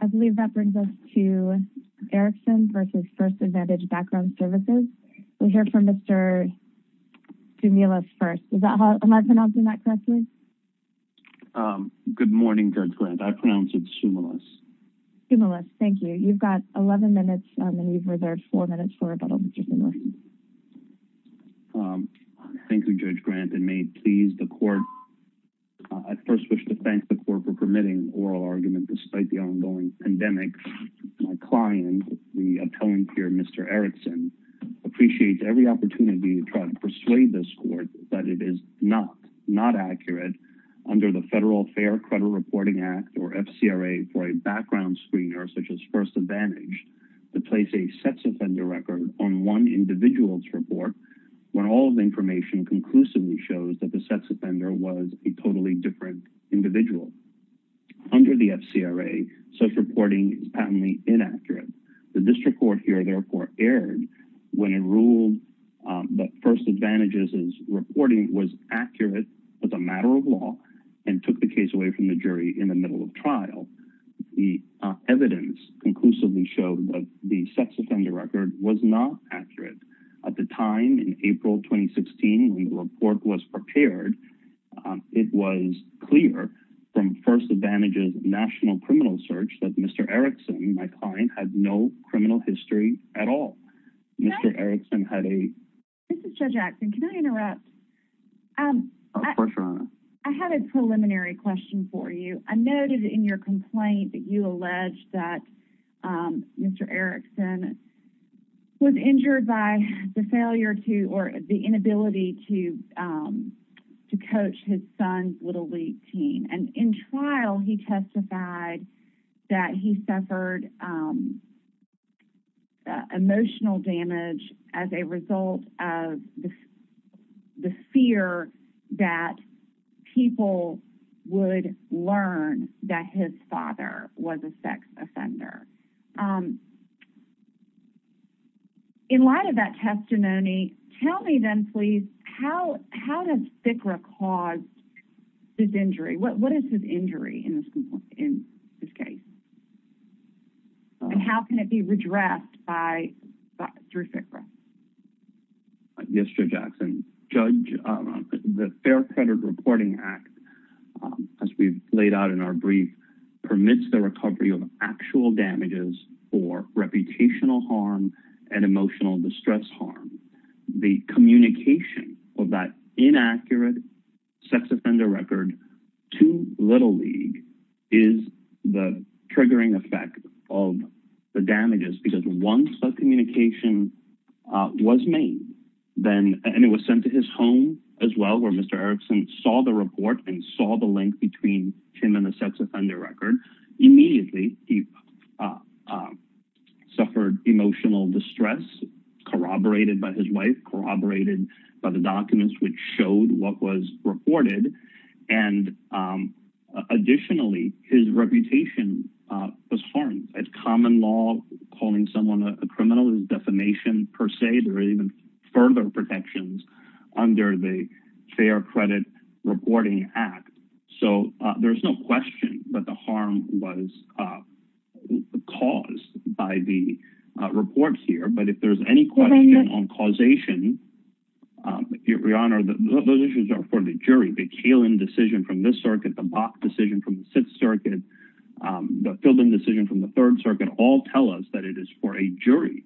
I believe that brings us to Erickson v. First Advantage Background Services. We'll hear from Mr. Soumoulis first. Am I pronouncing that correctly? Good morning, Judge Grant. I pronounce it Soumoulis. Soumoulis, thank you. You've got 11 minutes and you've reserved four minutes for rebuttal, Mr. Soumoulis. Thank you, Judge Grant, and may it please the court, I first wish to pandemic. My client, the appellant here, Mr. Erickson, appreciates every opportunity to try to persuade this court that it is not, not accurate under the Federal Fair Credit Reporting Act or FCRA for a background screener such as First Advantage to place a sex offender record on one individual's report when all of the information conclusively shows that the sex offender was a is patently inaccurate. The district court here therefore erred when it ruled that First Advantage's reporting was accurate as a matter of law and took the case away from the jury in the middle of trial. The evidence conclusively showed that the sex offender record was not accurate. At the time, in April 2016, when the report was prepared, it was clear from First Advantage that Mr. Erickson, my client, had no criminal history at all. Mr. Erickson had a... This is Judge Axton. Can I interrupt? Of course, Your Honor. I have a preliminary question for you. I noted in your complaint that you alleged that Mr. Erickson was injured by the failure to, or the inability to coach his son's Little League team. And in trial, he testified that he suffered emotional damage as a result of the fear that people would learn that his father was a sex offender. How does FICRA cause this injury? What is his injury in this case? And how can it be redressed through FICRA? Yes, Judge Axton. Judge, the Fair Credit Reporting Act, as we've laid out in our brief, permits the recovery of actual damages for reputational harm and emotional distress harm. The communication of that inaccurate sex offender record to Little League is the triggering effect of the damages. Because once that communication was made, and it was sent to his home as well, where Mr. Erickson saw the report and saw the suffered emotional distress corroborated by his wife, corroborated by the documents which showed what was reported, and additionally, his reputation was harmed. At common law, calling someone a criminal is defamation per se. There are even further protections under the Fair Credit Reporting Act. So there's no question that the harm was caused by the reports here. But if there's any question on causation, Your Honor, those issues are for the jury. The Kaelin decision from this circuit, the Bok decision from the Sixth Circuit, the Fielding decision from the Third Circuit, all tell us that it is for a jury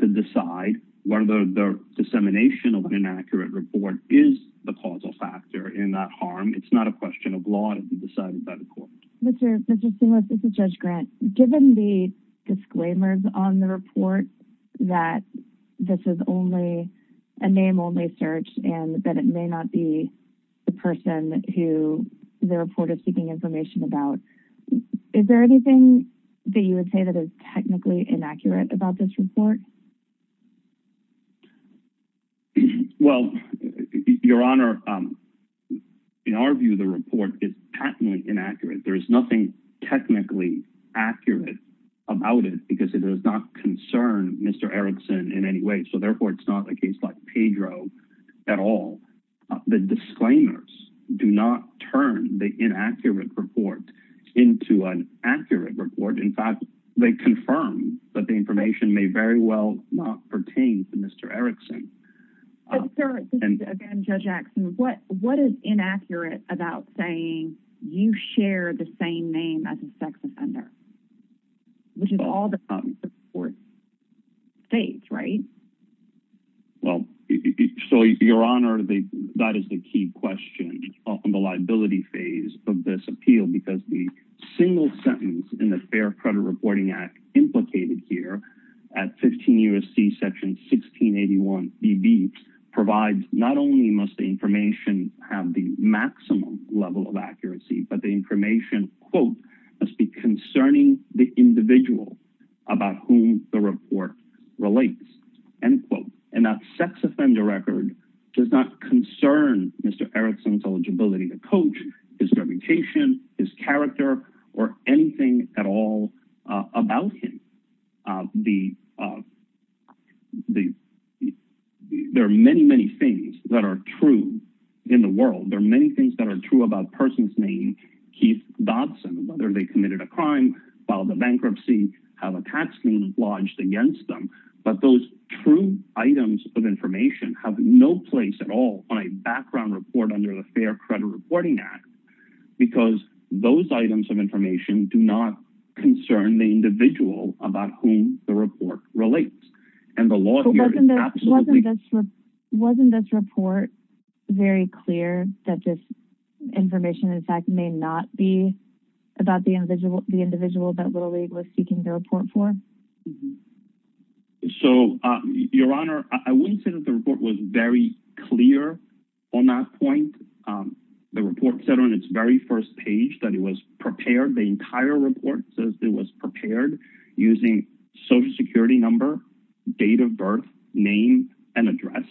to decide whether the dissemination of an inaccurate report is the causal factor in that harm. It's not a question of law to be decided by the court. Judge Grant, given the disclaimers on the report that this is only a name only search and that it may not be the person who the report is seeking information about, is there anything that you would say that is technically inaccurate about this report? Well, Your Honor, in our view, the report is patently inaccurate. There is nothing technically accurate about it because it does not concern Mr. Erikson in any way. So therefore, it's not a case like Pedro at all. The disclaimers do not turn the inaccurate report into an accurate report. In fact, they confirm that the information may very well have been not pertained to Mr. Erikson. But, sir, again, Judge Axson, what is inaccurate about saying you share the same name as a sex offender, which is all the court states, right? Well, so, Your Honor, that is the key question on the liability phase of this appeal because the Section 1681BB provides not only must the information have the maximum level of accuracy, but the information, quote, must be concerning the individual about whom the report relates, end quote. And that sex offender record does not concern Mr. Erikson's eligibility to coach, his reputation, his character, or anything at all about him. There are many, many things that are true in the world. There are many things that are true about a person's name, Keith Dodson, whether they committed a crime, filed a bankruptcy, have a tax lien lodged against them. But those true items of information have no place at all on a background report under the Fair Credit Reporting Act because those items of information do not concern the individual about whom the report relates. And the law here is absolutely— Wasn't this report very clear that this information, in fact, may not be about the individual that Little League was seeking the report for? Mm-hmm. So, Your Honor, I wouldn't say that the report was very clear on that point. The report said on its very first page that it was prepared, the entire report says it was prepared using Social Security number, date of birth, name, and address.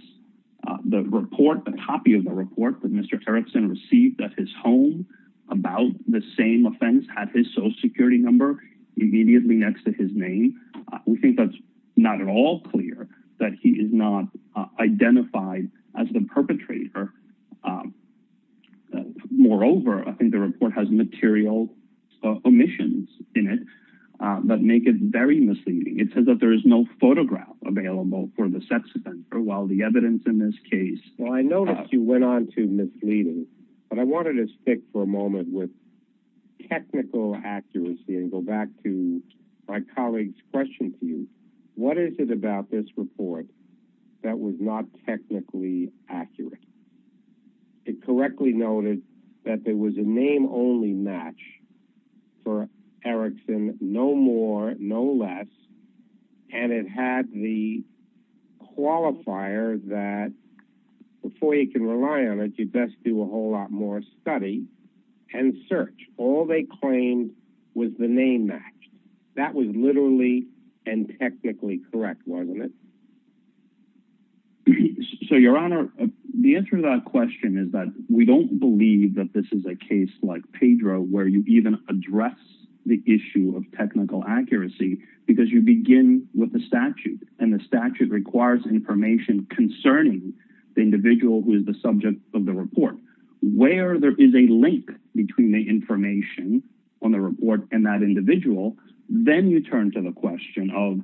The report, the copy of the report that Mr. Erikson received at his home about the same offense had his Social Security number immediately next to his name. We think that's not at all clear that he is not identified as the perpetrator. Moreover, I think the report has material omissions in it that make it very misleading. It says that there is no photograph available for the sex offender, while the evidence in this case— Well, I noticed you went on to misleading, but I wanted to stick for a moment with technical accuracy and go back to my colleague's question to you. What is it about this report that was not technically accurate? It correctly noted that there was a name-only match for Erikson, no more, no less, and it had the qualifier that, before you can rely on it, you best do a whole lot more study and search. All they claimed was the name match. That was literally and technically correct, wasn't it? So, Your Honor, the answer to that question is that we don't believe that this is a case like Pedro where you even address the issue of technical accuracy because you begin with the statute, and the statute requires information concerning the individual who is the subject of the report. Where there is a link between the information on the report and that individual, then you turn to the question of,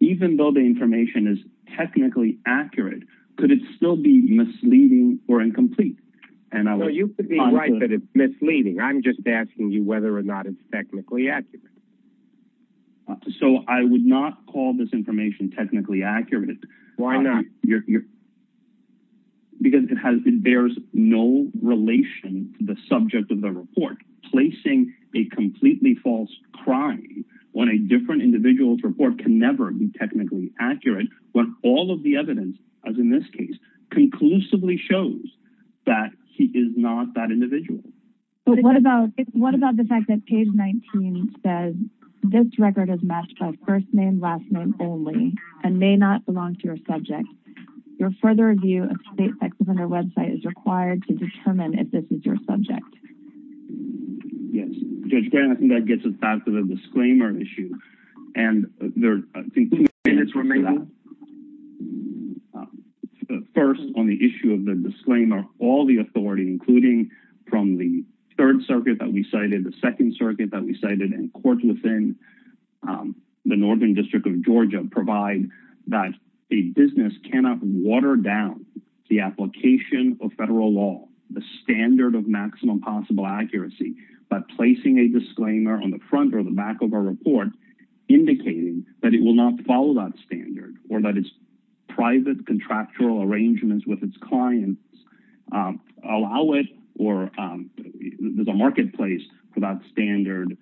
even though the information is technically accurate, could it still be misleading or incomplete? You could be right that it's misleading. I'm just asking you whether or not it's technically accurate. So, I would not call this information technically accurate. Why not? Because it bears no relation to the subject of the report. Placing a completely false crime on a different individual's report can never be technically accurate when all of the evidence, as in this case, conclusively shows that he is not that individual. What about the fact that page 19 says, this record is matched by first name, last name only, and may not belong to your subject. Your further review of state sex offender website is required to determine if this is your subject. Yes, Judge Grant, I think that gets us back to the disclaimer issue. And I think two minutes remain. First, on the issue of the disclaimer, all the authority, including from the Third Circuit that we cited, the Second Circuit that we cited, and courts within the Northern District of Georgia provide that a business cannot water down the application of federal law, the standard of maximum possible accuracy, by placing a disclaimer on the front or the back of a report indicating that it will not follow that standard or that its private contractual arrangements with its clients allow it or there's a marketplace for that standard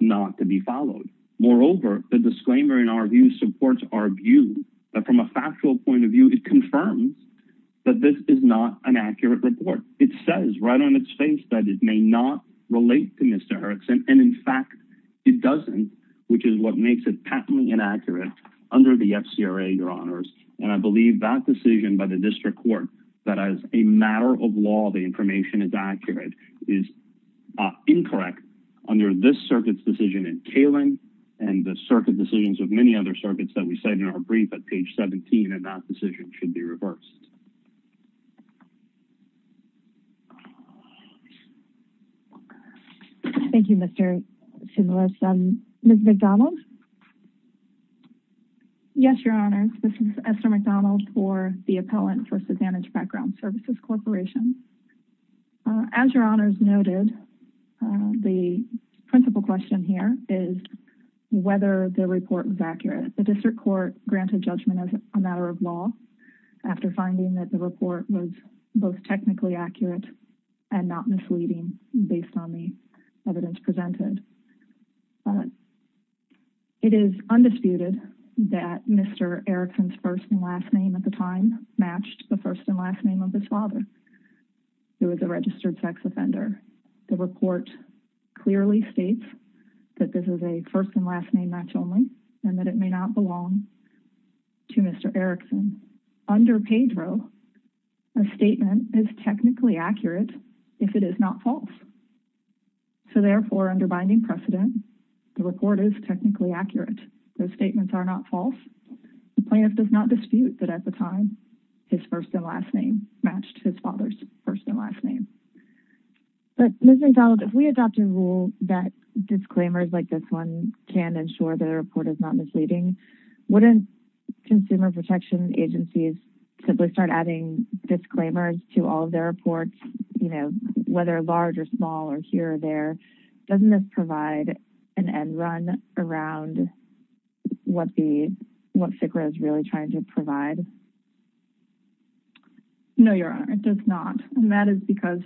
not to be followed. Moreover, the disclaimer in our view supports our view that from a factual point of view, it confirms that this is not an accurate report. It says right on its face that it may not relate to Mr. Erickson. And in fact, it doesn't, which is what makes it patently inaccurate under the FCRA, Your Honors. And I believe that decision by the district court that as a matter of law, the information is accurate, is incorrect under this circuit's decision in Kaling and the circuit decisions of many other circuits that we cited in our brief at page 17, and that decision should be reversed. Thank you, Mr. Similis. Ms. McDonald? Yes, Your Honors. This is Esther McDonald for the appellant for Susanna's Background Services Corporation. As Your Honors noted, the principal question here is whether the report was accurate. The district court granted judgment as a matter of law after finding that the report was both and not misleading based on the evidence presented. It is undisputed that Mr. Erickson's first and last name at the time matched the first and last name of his father, who was a registered sex offender. The report clearly states that this is a first and last name match only and that it may not belong to Mr. Erickson. Under Pedro, a statement is if it is not false. So therefore, under binding precedent, the report is technically accurate. Those statements are not false. The plaintiff does not dispute that at the time, his first and last name matched his father's first and last name. But Ms. McDonald, if we adopt a rule that disclaimers like this one can ensure the report is not misleading, wouldn't consumer protection agencies simply start adding disclaimers to all of their reports, whether large or small or here or there? Doesn't this provide an end run around what FCRA is really trying to provide? No, Your Honor, it does not. That is because,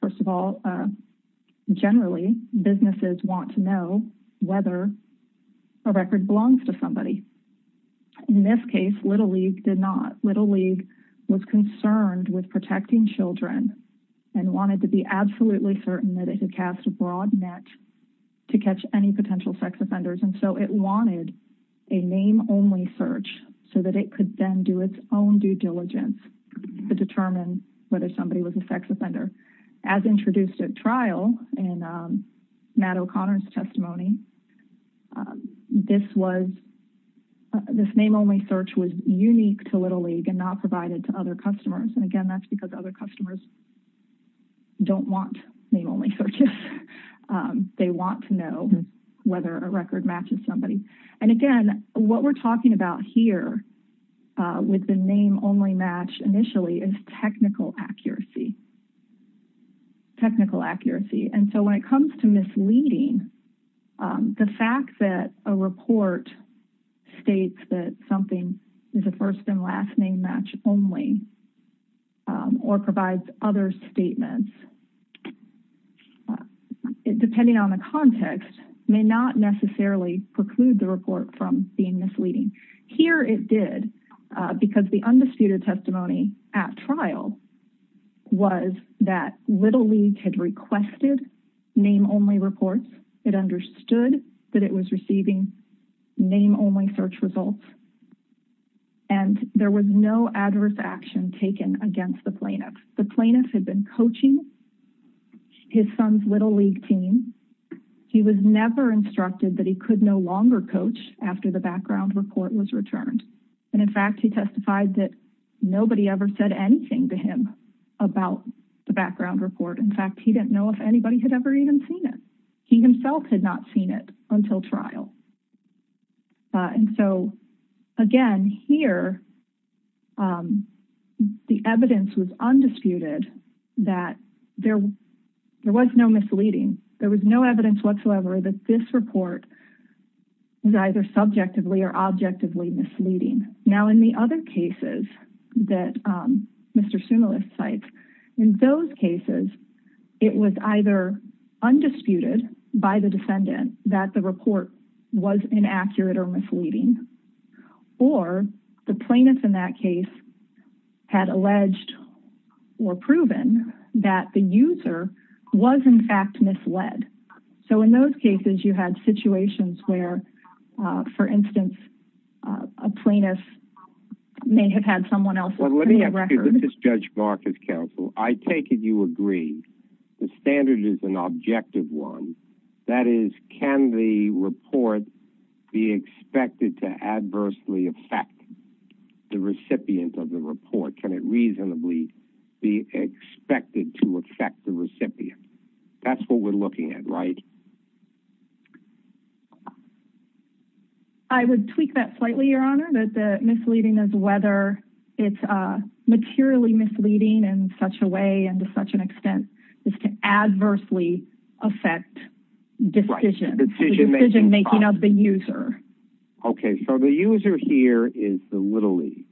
first of all, generally, businesses want to know whether a record belongs to somebody. In this case, Little League did not. Little League was concerned with protecting children and wanted to be absolutely certain that it had cast a broad net to catch any potential sex offenders. So it wanted a name only search so that it could then do its own due diligence to determine whether somebody was a sex offender. As introduced at Matt O'Connor's testimony, this name only search was unique to Little League and not provided to other customers. And again, that's because other customers don't want name only searches. They want to know whether a record matches somebody. And again, what we're talking about here with the name only match initially is technical accuracy. And so when it comes to misleading, the fact that a report states that something is a first and last name match only or provides other statements, depending on the context, may not necessarily preclude the report from being misleading. Here it did because the undisputed testimony at trial was that Little League had requested name only reports. It understood that it was receiving name only search results. And there was no adverse action taken against the plaintiff. The plaintiff had been coaching his son's Little League team. He was never instructed that he could no longer coach after the background report was returned. And in fact, he testified that nobody ever said anything to him about the background report. In fact, he didn't know if anybody had ever even seen it. He himself had not seen it until trial. And so again, here the evidence was undisputed that there was no misleading. There was no evidence whatsoever that this report was either subjectively or objectively misleading. Now, in the other cases that Mr. Sumolist cites, in those cases, it was either undisputed by the defendant that the report was inaccurate or misleading, or the plaintiff in that case had alleged or proven that the user was in fact misled. So in those cases, you had situations where, for instance, a plaintiff may have had someone else's record. Judge Marcus Counsel, I take it you agree. The standard is an objective one. That is, can the report be expected to adversely affect the recipient of the report? Can it reasonably be expected to affect the recipient? That's what we're looking at, right? I would tweak that slightly, Your Honor, that the misleading is whether it's materially misleading in such a way and to such an extent as to adversely affect decision making of the user. Okay, so the user here is the Little League.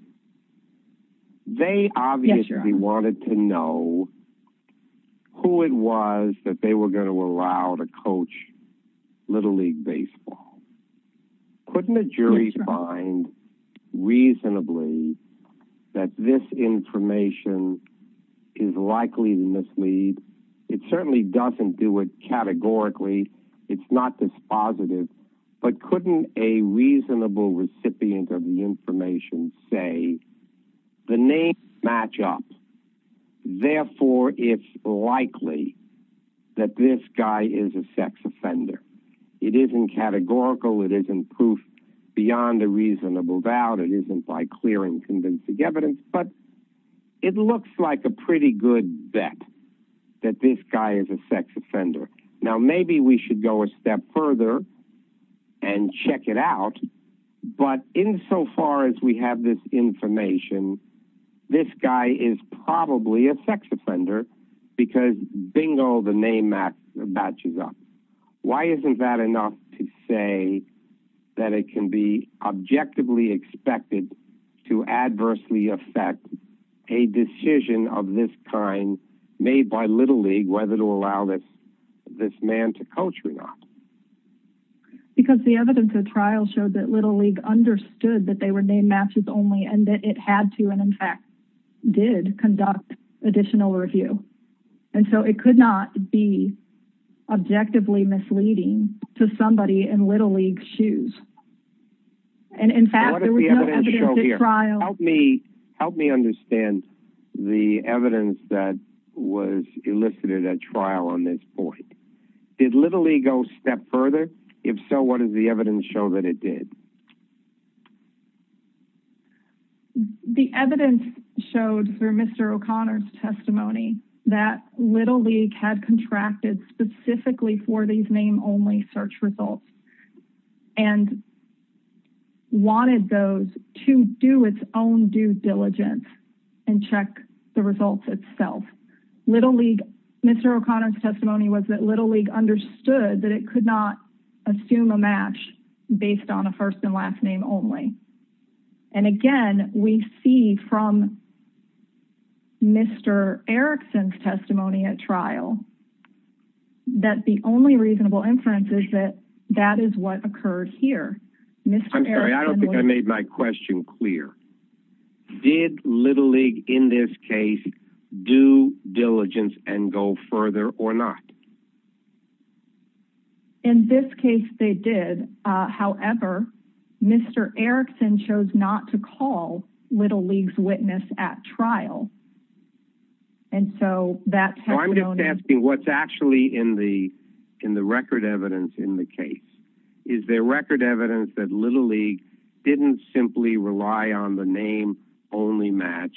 They obviously wanted to know who it was that they were going to allow to coach Little League baseball. Couldn't a jury find reasonably that this information is likely to mislead? It certainly doesn't do it categorically. It's not dispositive. But couldn't a reasonable recipient of the information say, the names match up. Therefore, it's likely that this guy is a sex offender. It isn't categorical. It isn't proof beyond a reasonable doubt. It isn't by clear and convincing evidence. But it looks like a pretty good bet that this guy is a sex offender. Now, maybe we should go a step further and check it out. But insofar as we have this information, this guy is probably a sex offender because bingo, the name matches up. Why isn't that enough to say that it can be a decision of this kind made by Little League whether to allow this man to coach or not? Because the evidence of the trial showed that Little League understood that they were named matches only and that it had to and in fact did conduct additional review. And so it could not be objectively misleading to somebody in Little League's shoes. And in fact, there was no evidence at trial. Help me understand the evidence that was elicited at trial on this point. Did Little League go a step further? If so, what does the evidence show that it did? The evidence showed through Mr. O'Connor's testimony that Little League had contracted specifically for these name only search results and wanted those to do its own due diligence and check the results itself. Mr. O'Connor's testimony was that Little League understood that it could not assume a match based on a first and last name only. And again, we see from Mr. Erickson's testimony at trial that the only reasonable inference is that that is what occurred here. I'm sorry, I don't think I made my question clear. Did Little League in this case do diligence and go further or not? In this case, they did. However, Mr. Erickson chose not to call Little League's witness at trial. I'm just asking what's actually in the record evidence in the case. Is there record evidence that Little League didn't simply rely on the name only match?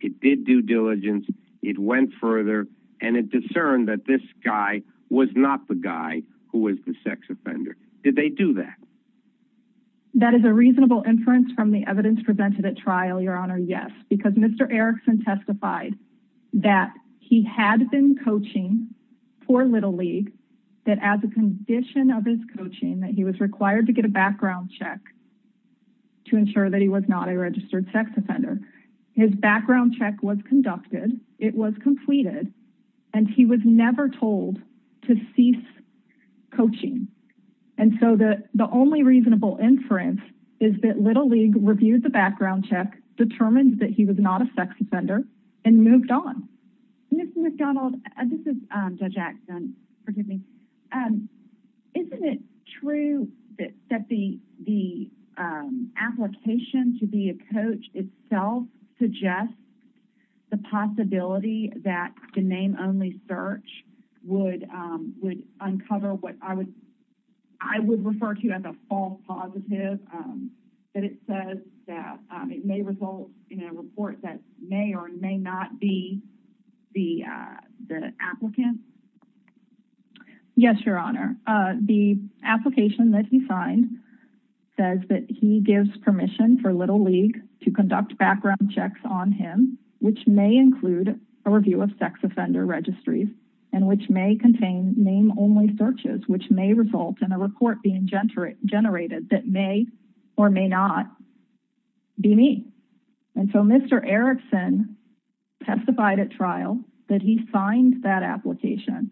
It did due diligence, it went further, and it discerned that this guy was not the guy who was the sex offender. Did they do that? That is a reasonable inference from the evidence presented at trial, Your Honor, yes. Because Mr. Erickson testified that he had been coaching for Little League, that as a condition of his coaching that he was required to get a background check to ensure that he was not a registered sex offender. His background check was conducted, it was completed, and he was never told to cease coaching. And so the only reasonable inference is that Little League reviewed the background check, determined that he was not a sex offender, and moved on. Ms. McDonald, this is Judge Axton. Isn't it true that the application to be a coach itself suggests the possibility that the name only search would uncover what I would refer to as a false positive? That it says that it may result in a report that may or may not be the applicant? Yes, Your Honor. The application that he signed says that he gives permission for Little League to conduct background checks on him, which may include a review of sex offender registries, and which may contain name only searches, which may result in a report being generated that may or may not be me. And so Mr. Erickson testified at trial that he signed that application.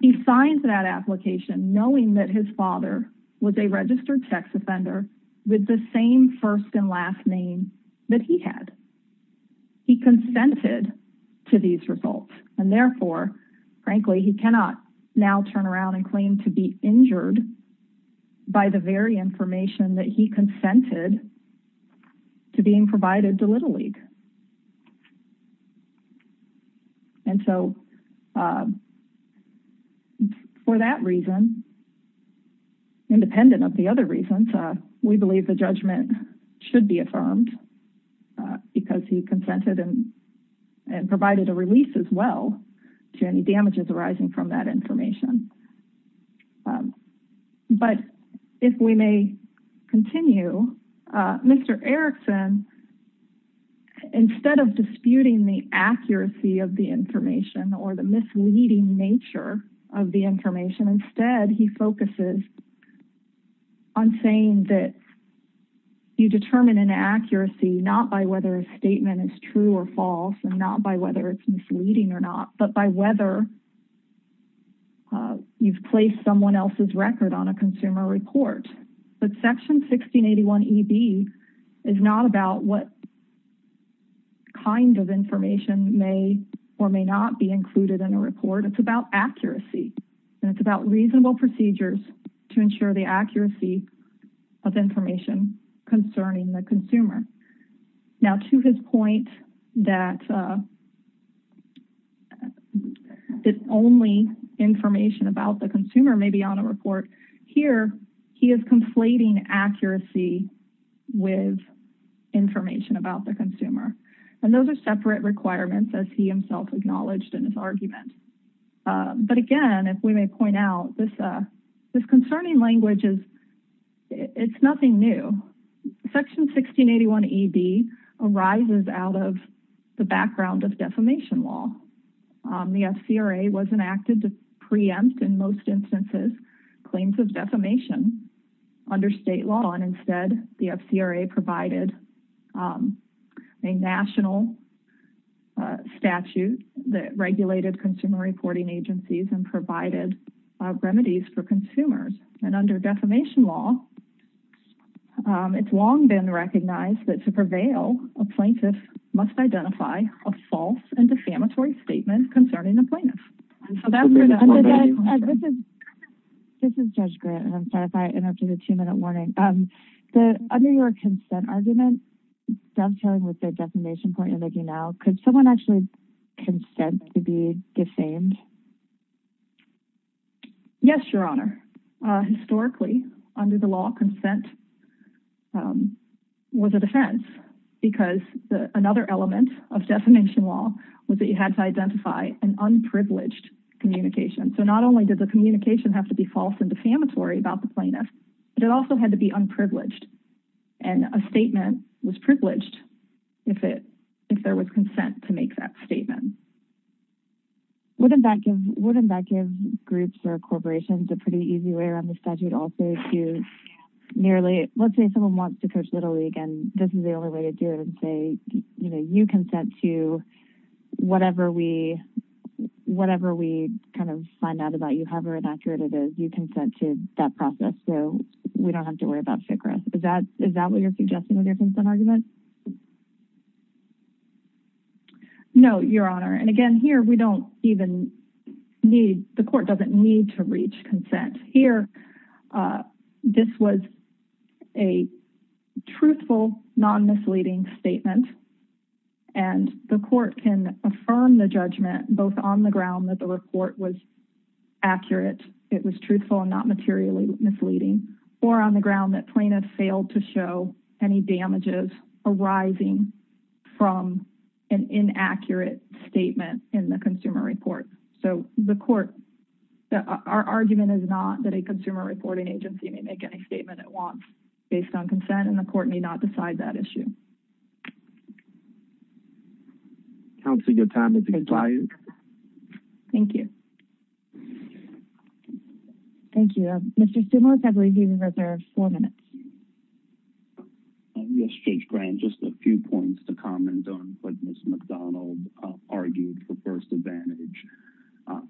He signed that application knowing that his father was a registered sex offender with the same first and to these results. And therefore, frankly, he cannot now turn around and claim to be injured by the very information that he consented to being provided to Little League. And so for that reason, independent of the other reasons, we believe the judgment should be affirmed because he consented and provided a release as well to any damages arising from that information. But if we may continue, Mr. Erickson, instead of disputing the accuracy of the information or the misleading nature of the information, instead he focuses on saying that you determine an accuracy not by whether a statement is true or false and not by whether it's misleading or not, but by whether you've placed someone else's record on a consumer report. But Section 1681EB is not about what information may or may not be included in a report. It's about accuracy and it's about reasonable procedures to ensure the accuracy of information concerning the consumer. Now to his point that the only information about the consumer may be on a report, here he is conflating accuracy with information about the consumer. And those are separate requirements as he himself acknowledged in his argument. But again, if we may point out, this concerning language is nothing new. Section 1681EB arises out of the background of defamation law. The FCRA was enacted to preempt in most instances claims of defamation under state law and instead the FCRA provided a national statute that regulated consumer reporting agencies and provided remedies for consumers. And under defamation law, it's long been recognized that to prevail, a plaintiff must identify a false and defamatory statement concerning the plaintiff. And so that's where that comes from. This is Judge Grant and I'm sorry if I interrupted a two-minute warning. Under your consent argument, dovetailing with the defamation point you're making now, could someone actually consent to be defamed? Yes, Your Honor. Historically, under the law, consent was a defense because another element of defamation law was that you had to identify an unprivileged communication. So not only did the communication have to be false and defamatory about the plaintiff, but it also had to be unprivileged. And a statement was privileged if there was consent to make that statement. Wouldn't that give groups or corporations a pretty easy way around the statute also to merely, let's say someone wants to coach Little League and this is the only way to do it and say, you consent to whatever we kind of find out about you, however inaccurate it is, you consent to that process so we don't have to worry about FCRA. Is that what you're suggesting with your And again, here, we don't even need, the court doesn't need to reach consent. Here, this was a truthful, non-misleading statement. And the court can affirm the judgment, both on the ground that the report was accurate, it was truthful and not materially misleading, or on the ground that plaintiffs failed to show any damages arising from an inaccurate statement in the consumer report. So the court, our argument is not that a consumer reporting agency may make any statement at once based on consent and the court may not decide that issue. Counsel, your time has expired. Thank you. Thank you. Mr. Stumlitz, I believe you have four minutes. Yes, Judge Grant, just a few points to comment on what Ms. McDonald argued for first advantage.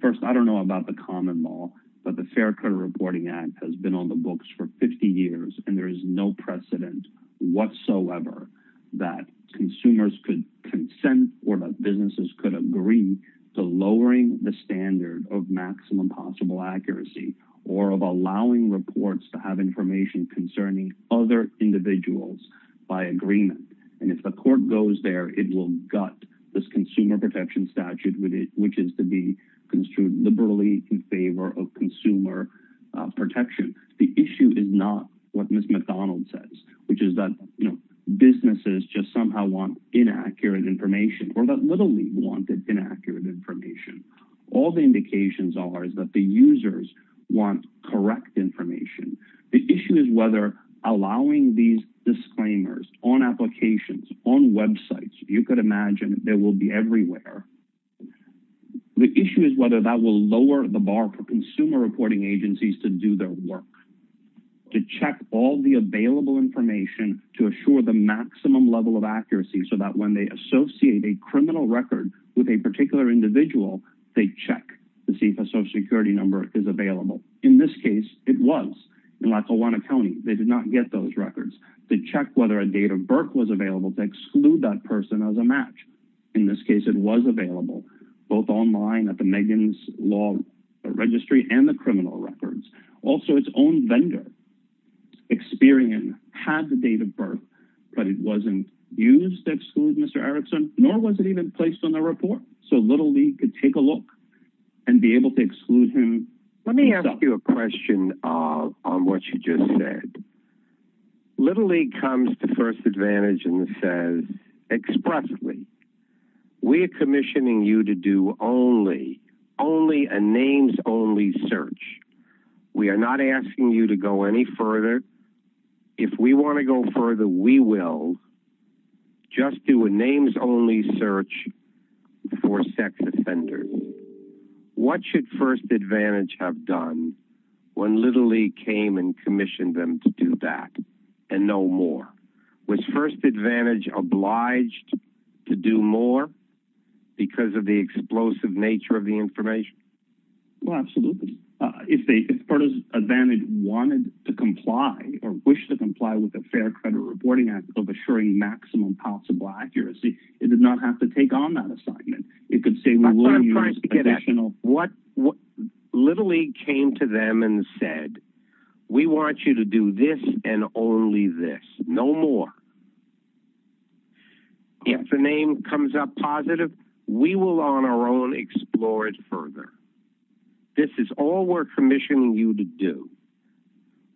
First, I don't know about the common law, but the Fair Credit Reporting Act has been on the books for 50 years and there is no precedent whatsoever that consumers could consent or that businesses could agree to lowering the standard of maximum possible accuracy or of allowing reports to have information concerning other individuals by agreement. And if the court goes there, it will gut this consumer protection statute, which is to be construed liberally in favor of consumer protection. The issue is not what Ms. McDonald says, which is that businesses just somehow want inaccurate information or that literally want inaccurate information. All the indications are is that the users want correct information. The issue is whether allowing these disclaimers on applications, on websites, you could imagine they will be everywhere. The issue is whether that will lower the bar for consumer reporting agencies to do their work, to check all the available information, to assure the maximum level of accuracy so that when they associate a criminal record with a particular individual, they check to see if a social security number is available. In this case, it was. In Lackawanna County, they did not get those records. They checked whether a date of birth was available to exclude that person as a match. In this case, it was available, both online at the Megan's Law Registry and the criminal records. Also, its own vendor, Experian, had the date of birth, but it wasn't used to exclude Mr. Erickson, nor was it even placed on the report. So Little League could take a look and be able to exclude him. Let me ask you a question on what you just said. Little League comes to first advantage and we are not asking you to go any further. If we want to go further, we will just do a names only search for sex offenders. What should first advantage have done when Little League came and commissioned them to do that and no more? Was first advantage obliged to do more because of the advantage wanted to comply or wish to comply with the Fair Credit Reporting Act of assuring maximum possible accuracy? It did not have to take on that assignment. It could say, Little League came to them and said, we want you to do this and only this, no more. If the name comes up positive, we will on our own explore it further. This is all we're commissioning you to do.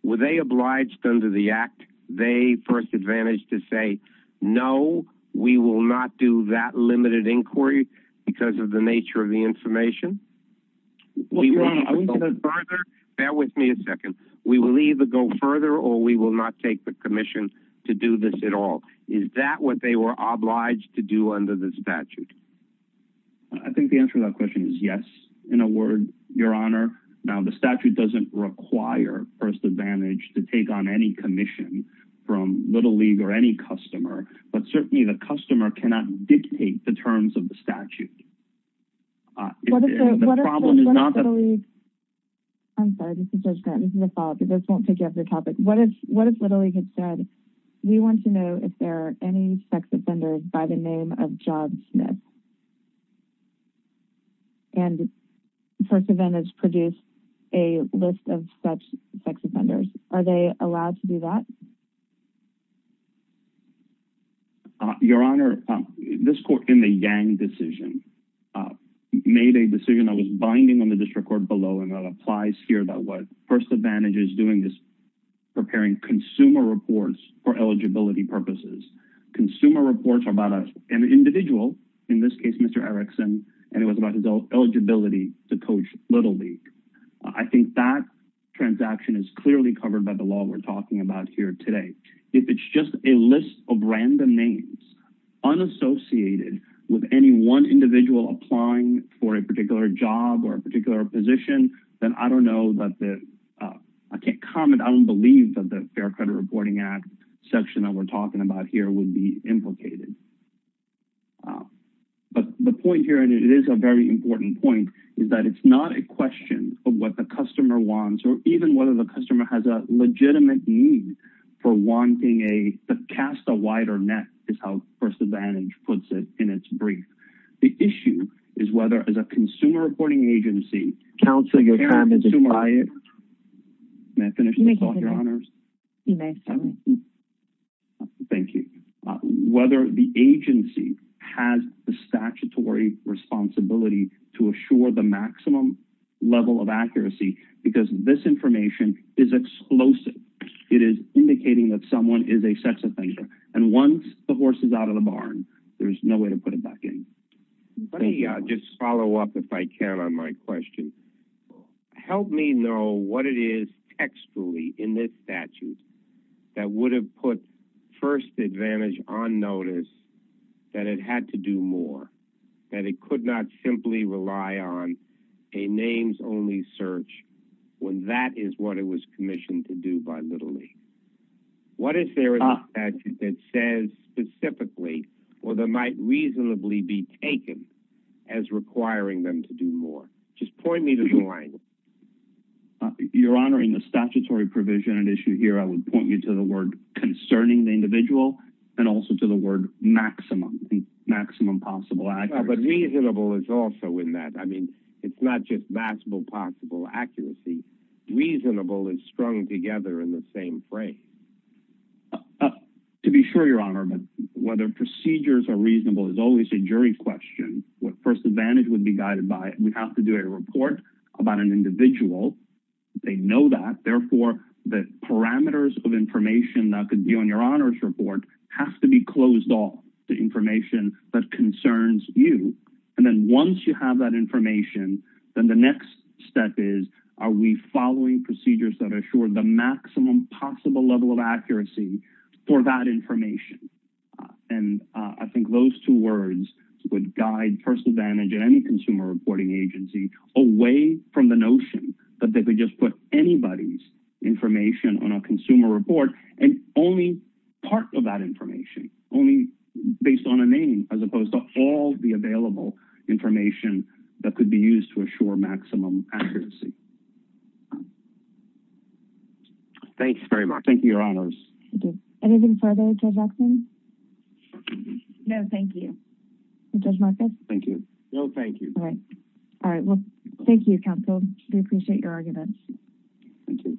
Were they obliged under the Act, they first advantage to say, no, we will not do that limited inquiry because of the nature of the information? Are we going to go further? Bear with me a second. We will either go further or we will not take the commission to do this at all. Is that what they were obliged to do under the statute? I think the answer to that question is yes, in a word, Your Honor. The statute does not require first advantage to take on any commission from Little League or any customer. Certainly, the customer cannot dictate the terms of the statute. What if Little League had said, we want to know if there are any sex offenders by the name of Job Smith? And first advantage produced a list of such sex offenders. Are they allowed to do that? Your Honor, this court in the Yang decision made a decision that was binding on the district below. First advantage is preparing consumer reports for eligibility purposes. Consumer reports are about an individual, in this case, Mr. Erickson, and it was about his eligibility to coach Little League. I think that transaction is clearly covered by the law we're talking about here today. If it's just a list of random names, unassociated with any one individual applying for a particular job or a particular position, then I don't know. I can't comment. I don't believe that the Fair Credit Reporting Act section that we're talking about here would be implicated. But the point here, and it is a very important point, is that it's not a question of what the customer wants or even whether the customer has a legitimate need for wanting to cast a wider net, is how first advantage puts it in its brief. The issue is whether, as a consumer reporting agency, whether the agency has the statutory responsibility to assure the maximum level of accuracy, because this information is explosive. It is indicating that someone is a sex offender, and once the horse is out of the barn, there's no way to put it back in. Let me just follow up, if I can, on my question. Help me know what it is textually in this statute that would have put first advantage on notice that it had to do more, that it could not simply rely on a names-only search when that is what it was commissioned to do by Little League. What is there in the statute that says specifically or that might reasonably be taken as requiring them to do more? Just point me to the line. You're honoring the statutory provision and issue here. I would point you to the word concerning the individual and also to the word maximum, maximum possible accuracy. But reasonable is also in that. I mean, it's not just maximum possible accuracy. Reasonable is strung together in the same phrase. To be sure, Your Honor, whether procedures are reasonable is always a jury question. What first advantage would be guided by it? We have to do a report about an individual. They know that. Therefore, the parameters of information that could be on Your Honor's report have to be closed off to information that concerns you. Then once you have that information, then the next step is, are we following procedures that assure the maximum possible level of accuracy for that information? I think those two words would guide first advantage at any consumer reporting agency away from the notion that they could just put anybody's information on a consumer report and only part of that information, only based on a available information that could be used to assure maximum accuracy. Thanks very much. Thank you, Your Honors. Anything further, Judge Ackman? No, thank you. Judge Marcus? Thank you. No, thank you. All right. All right. Well, thank you, counsel. We appreciate your argument. Thank you.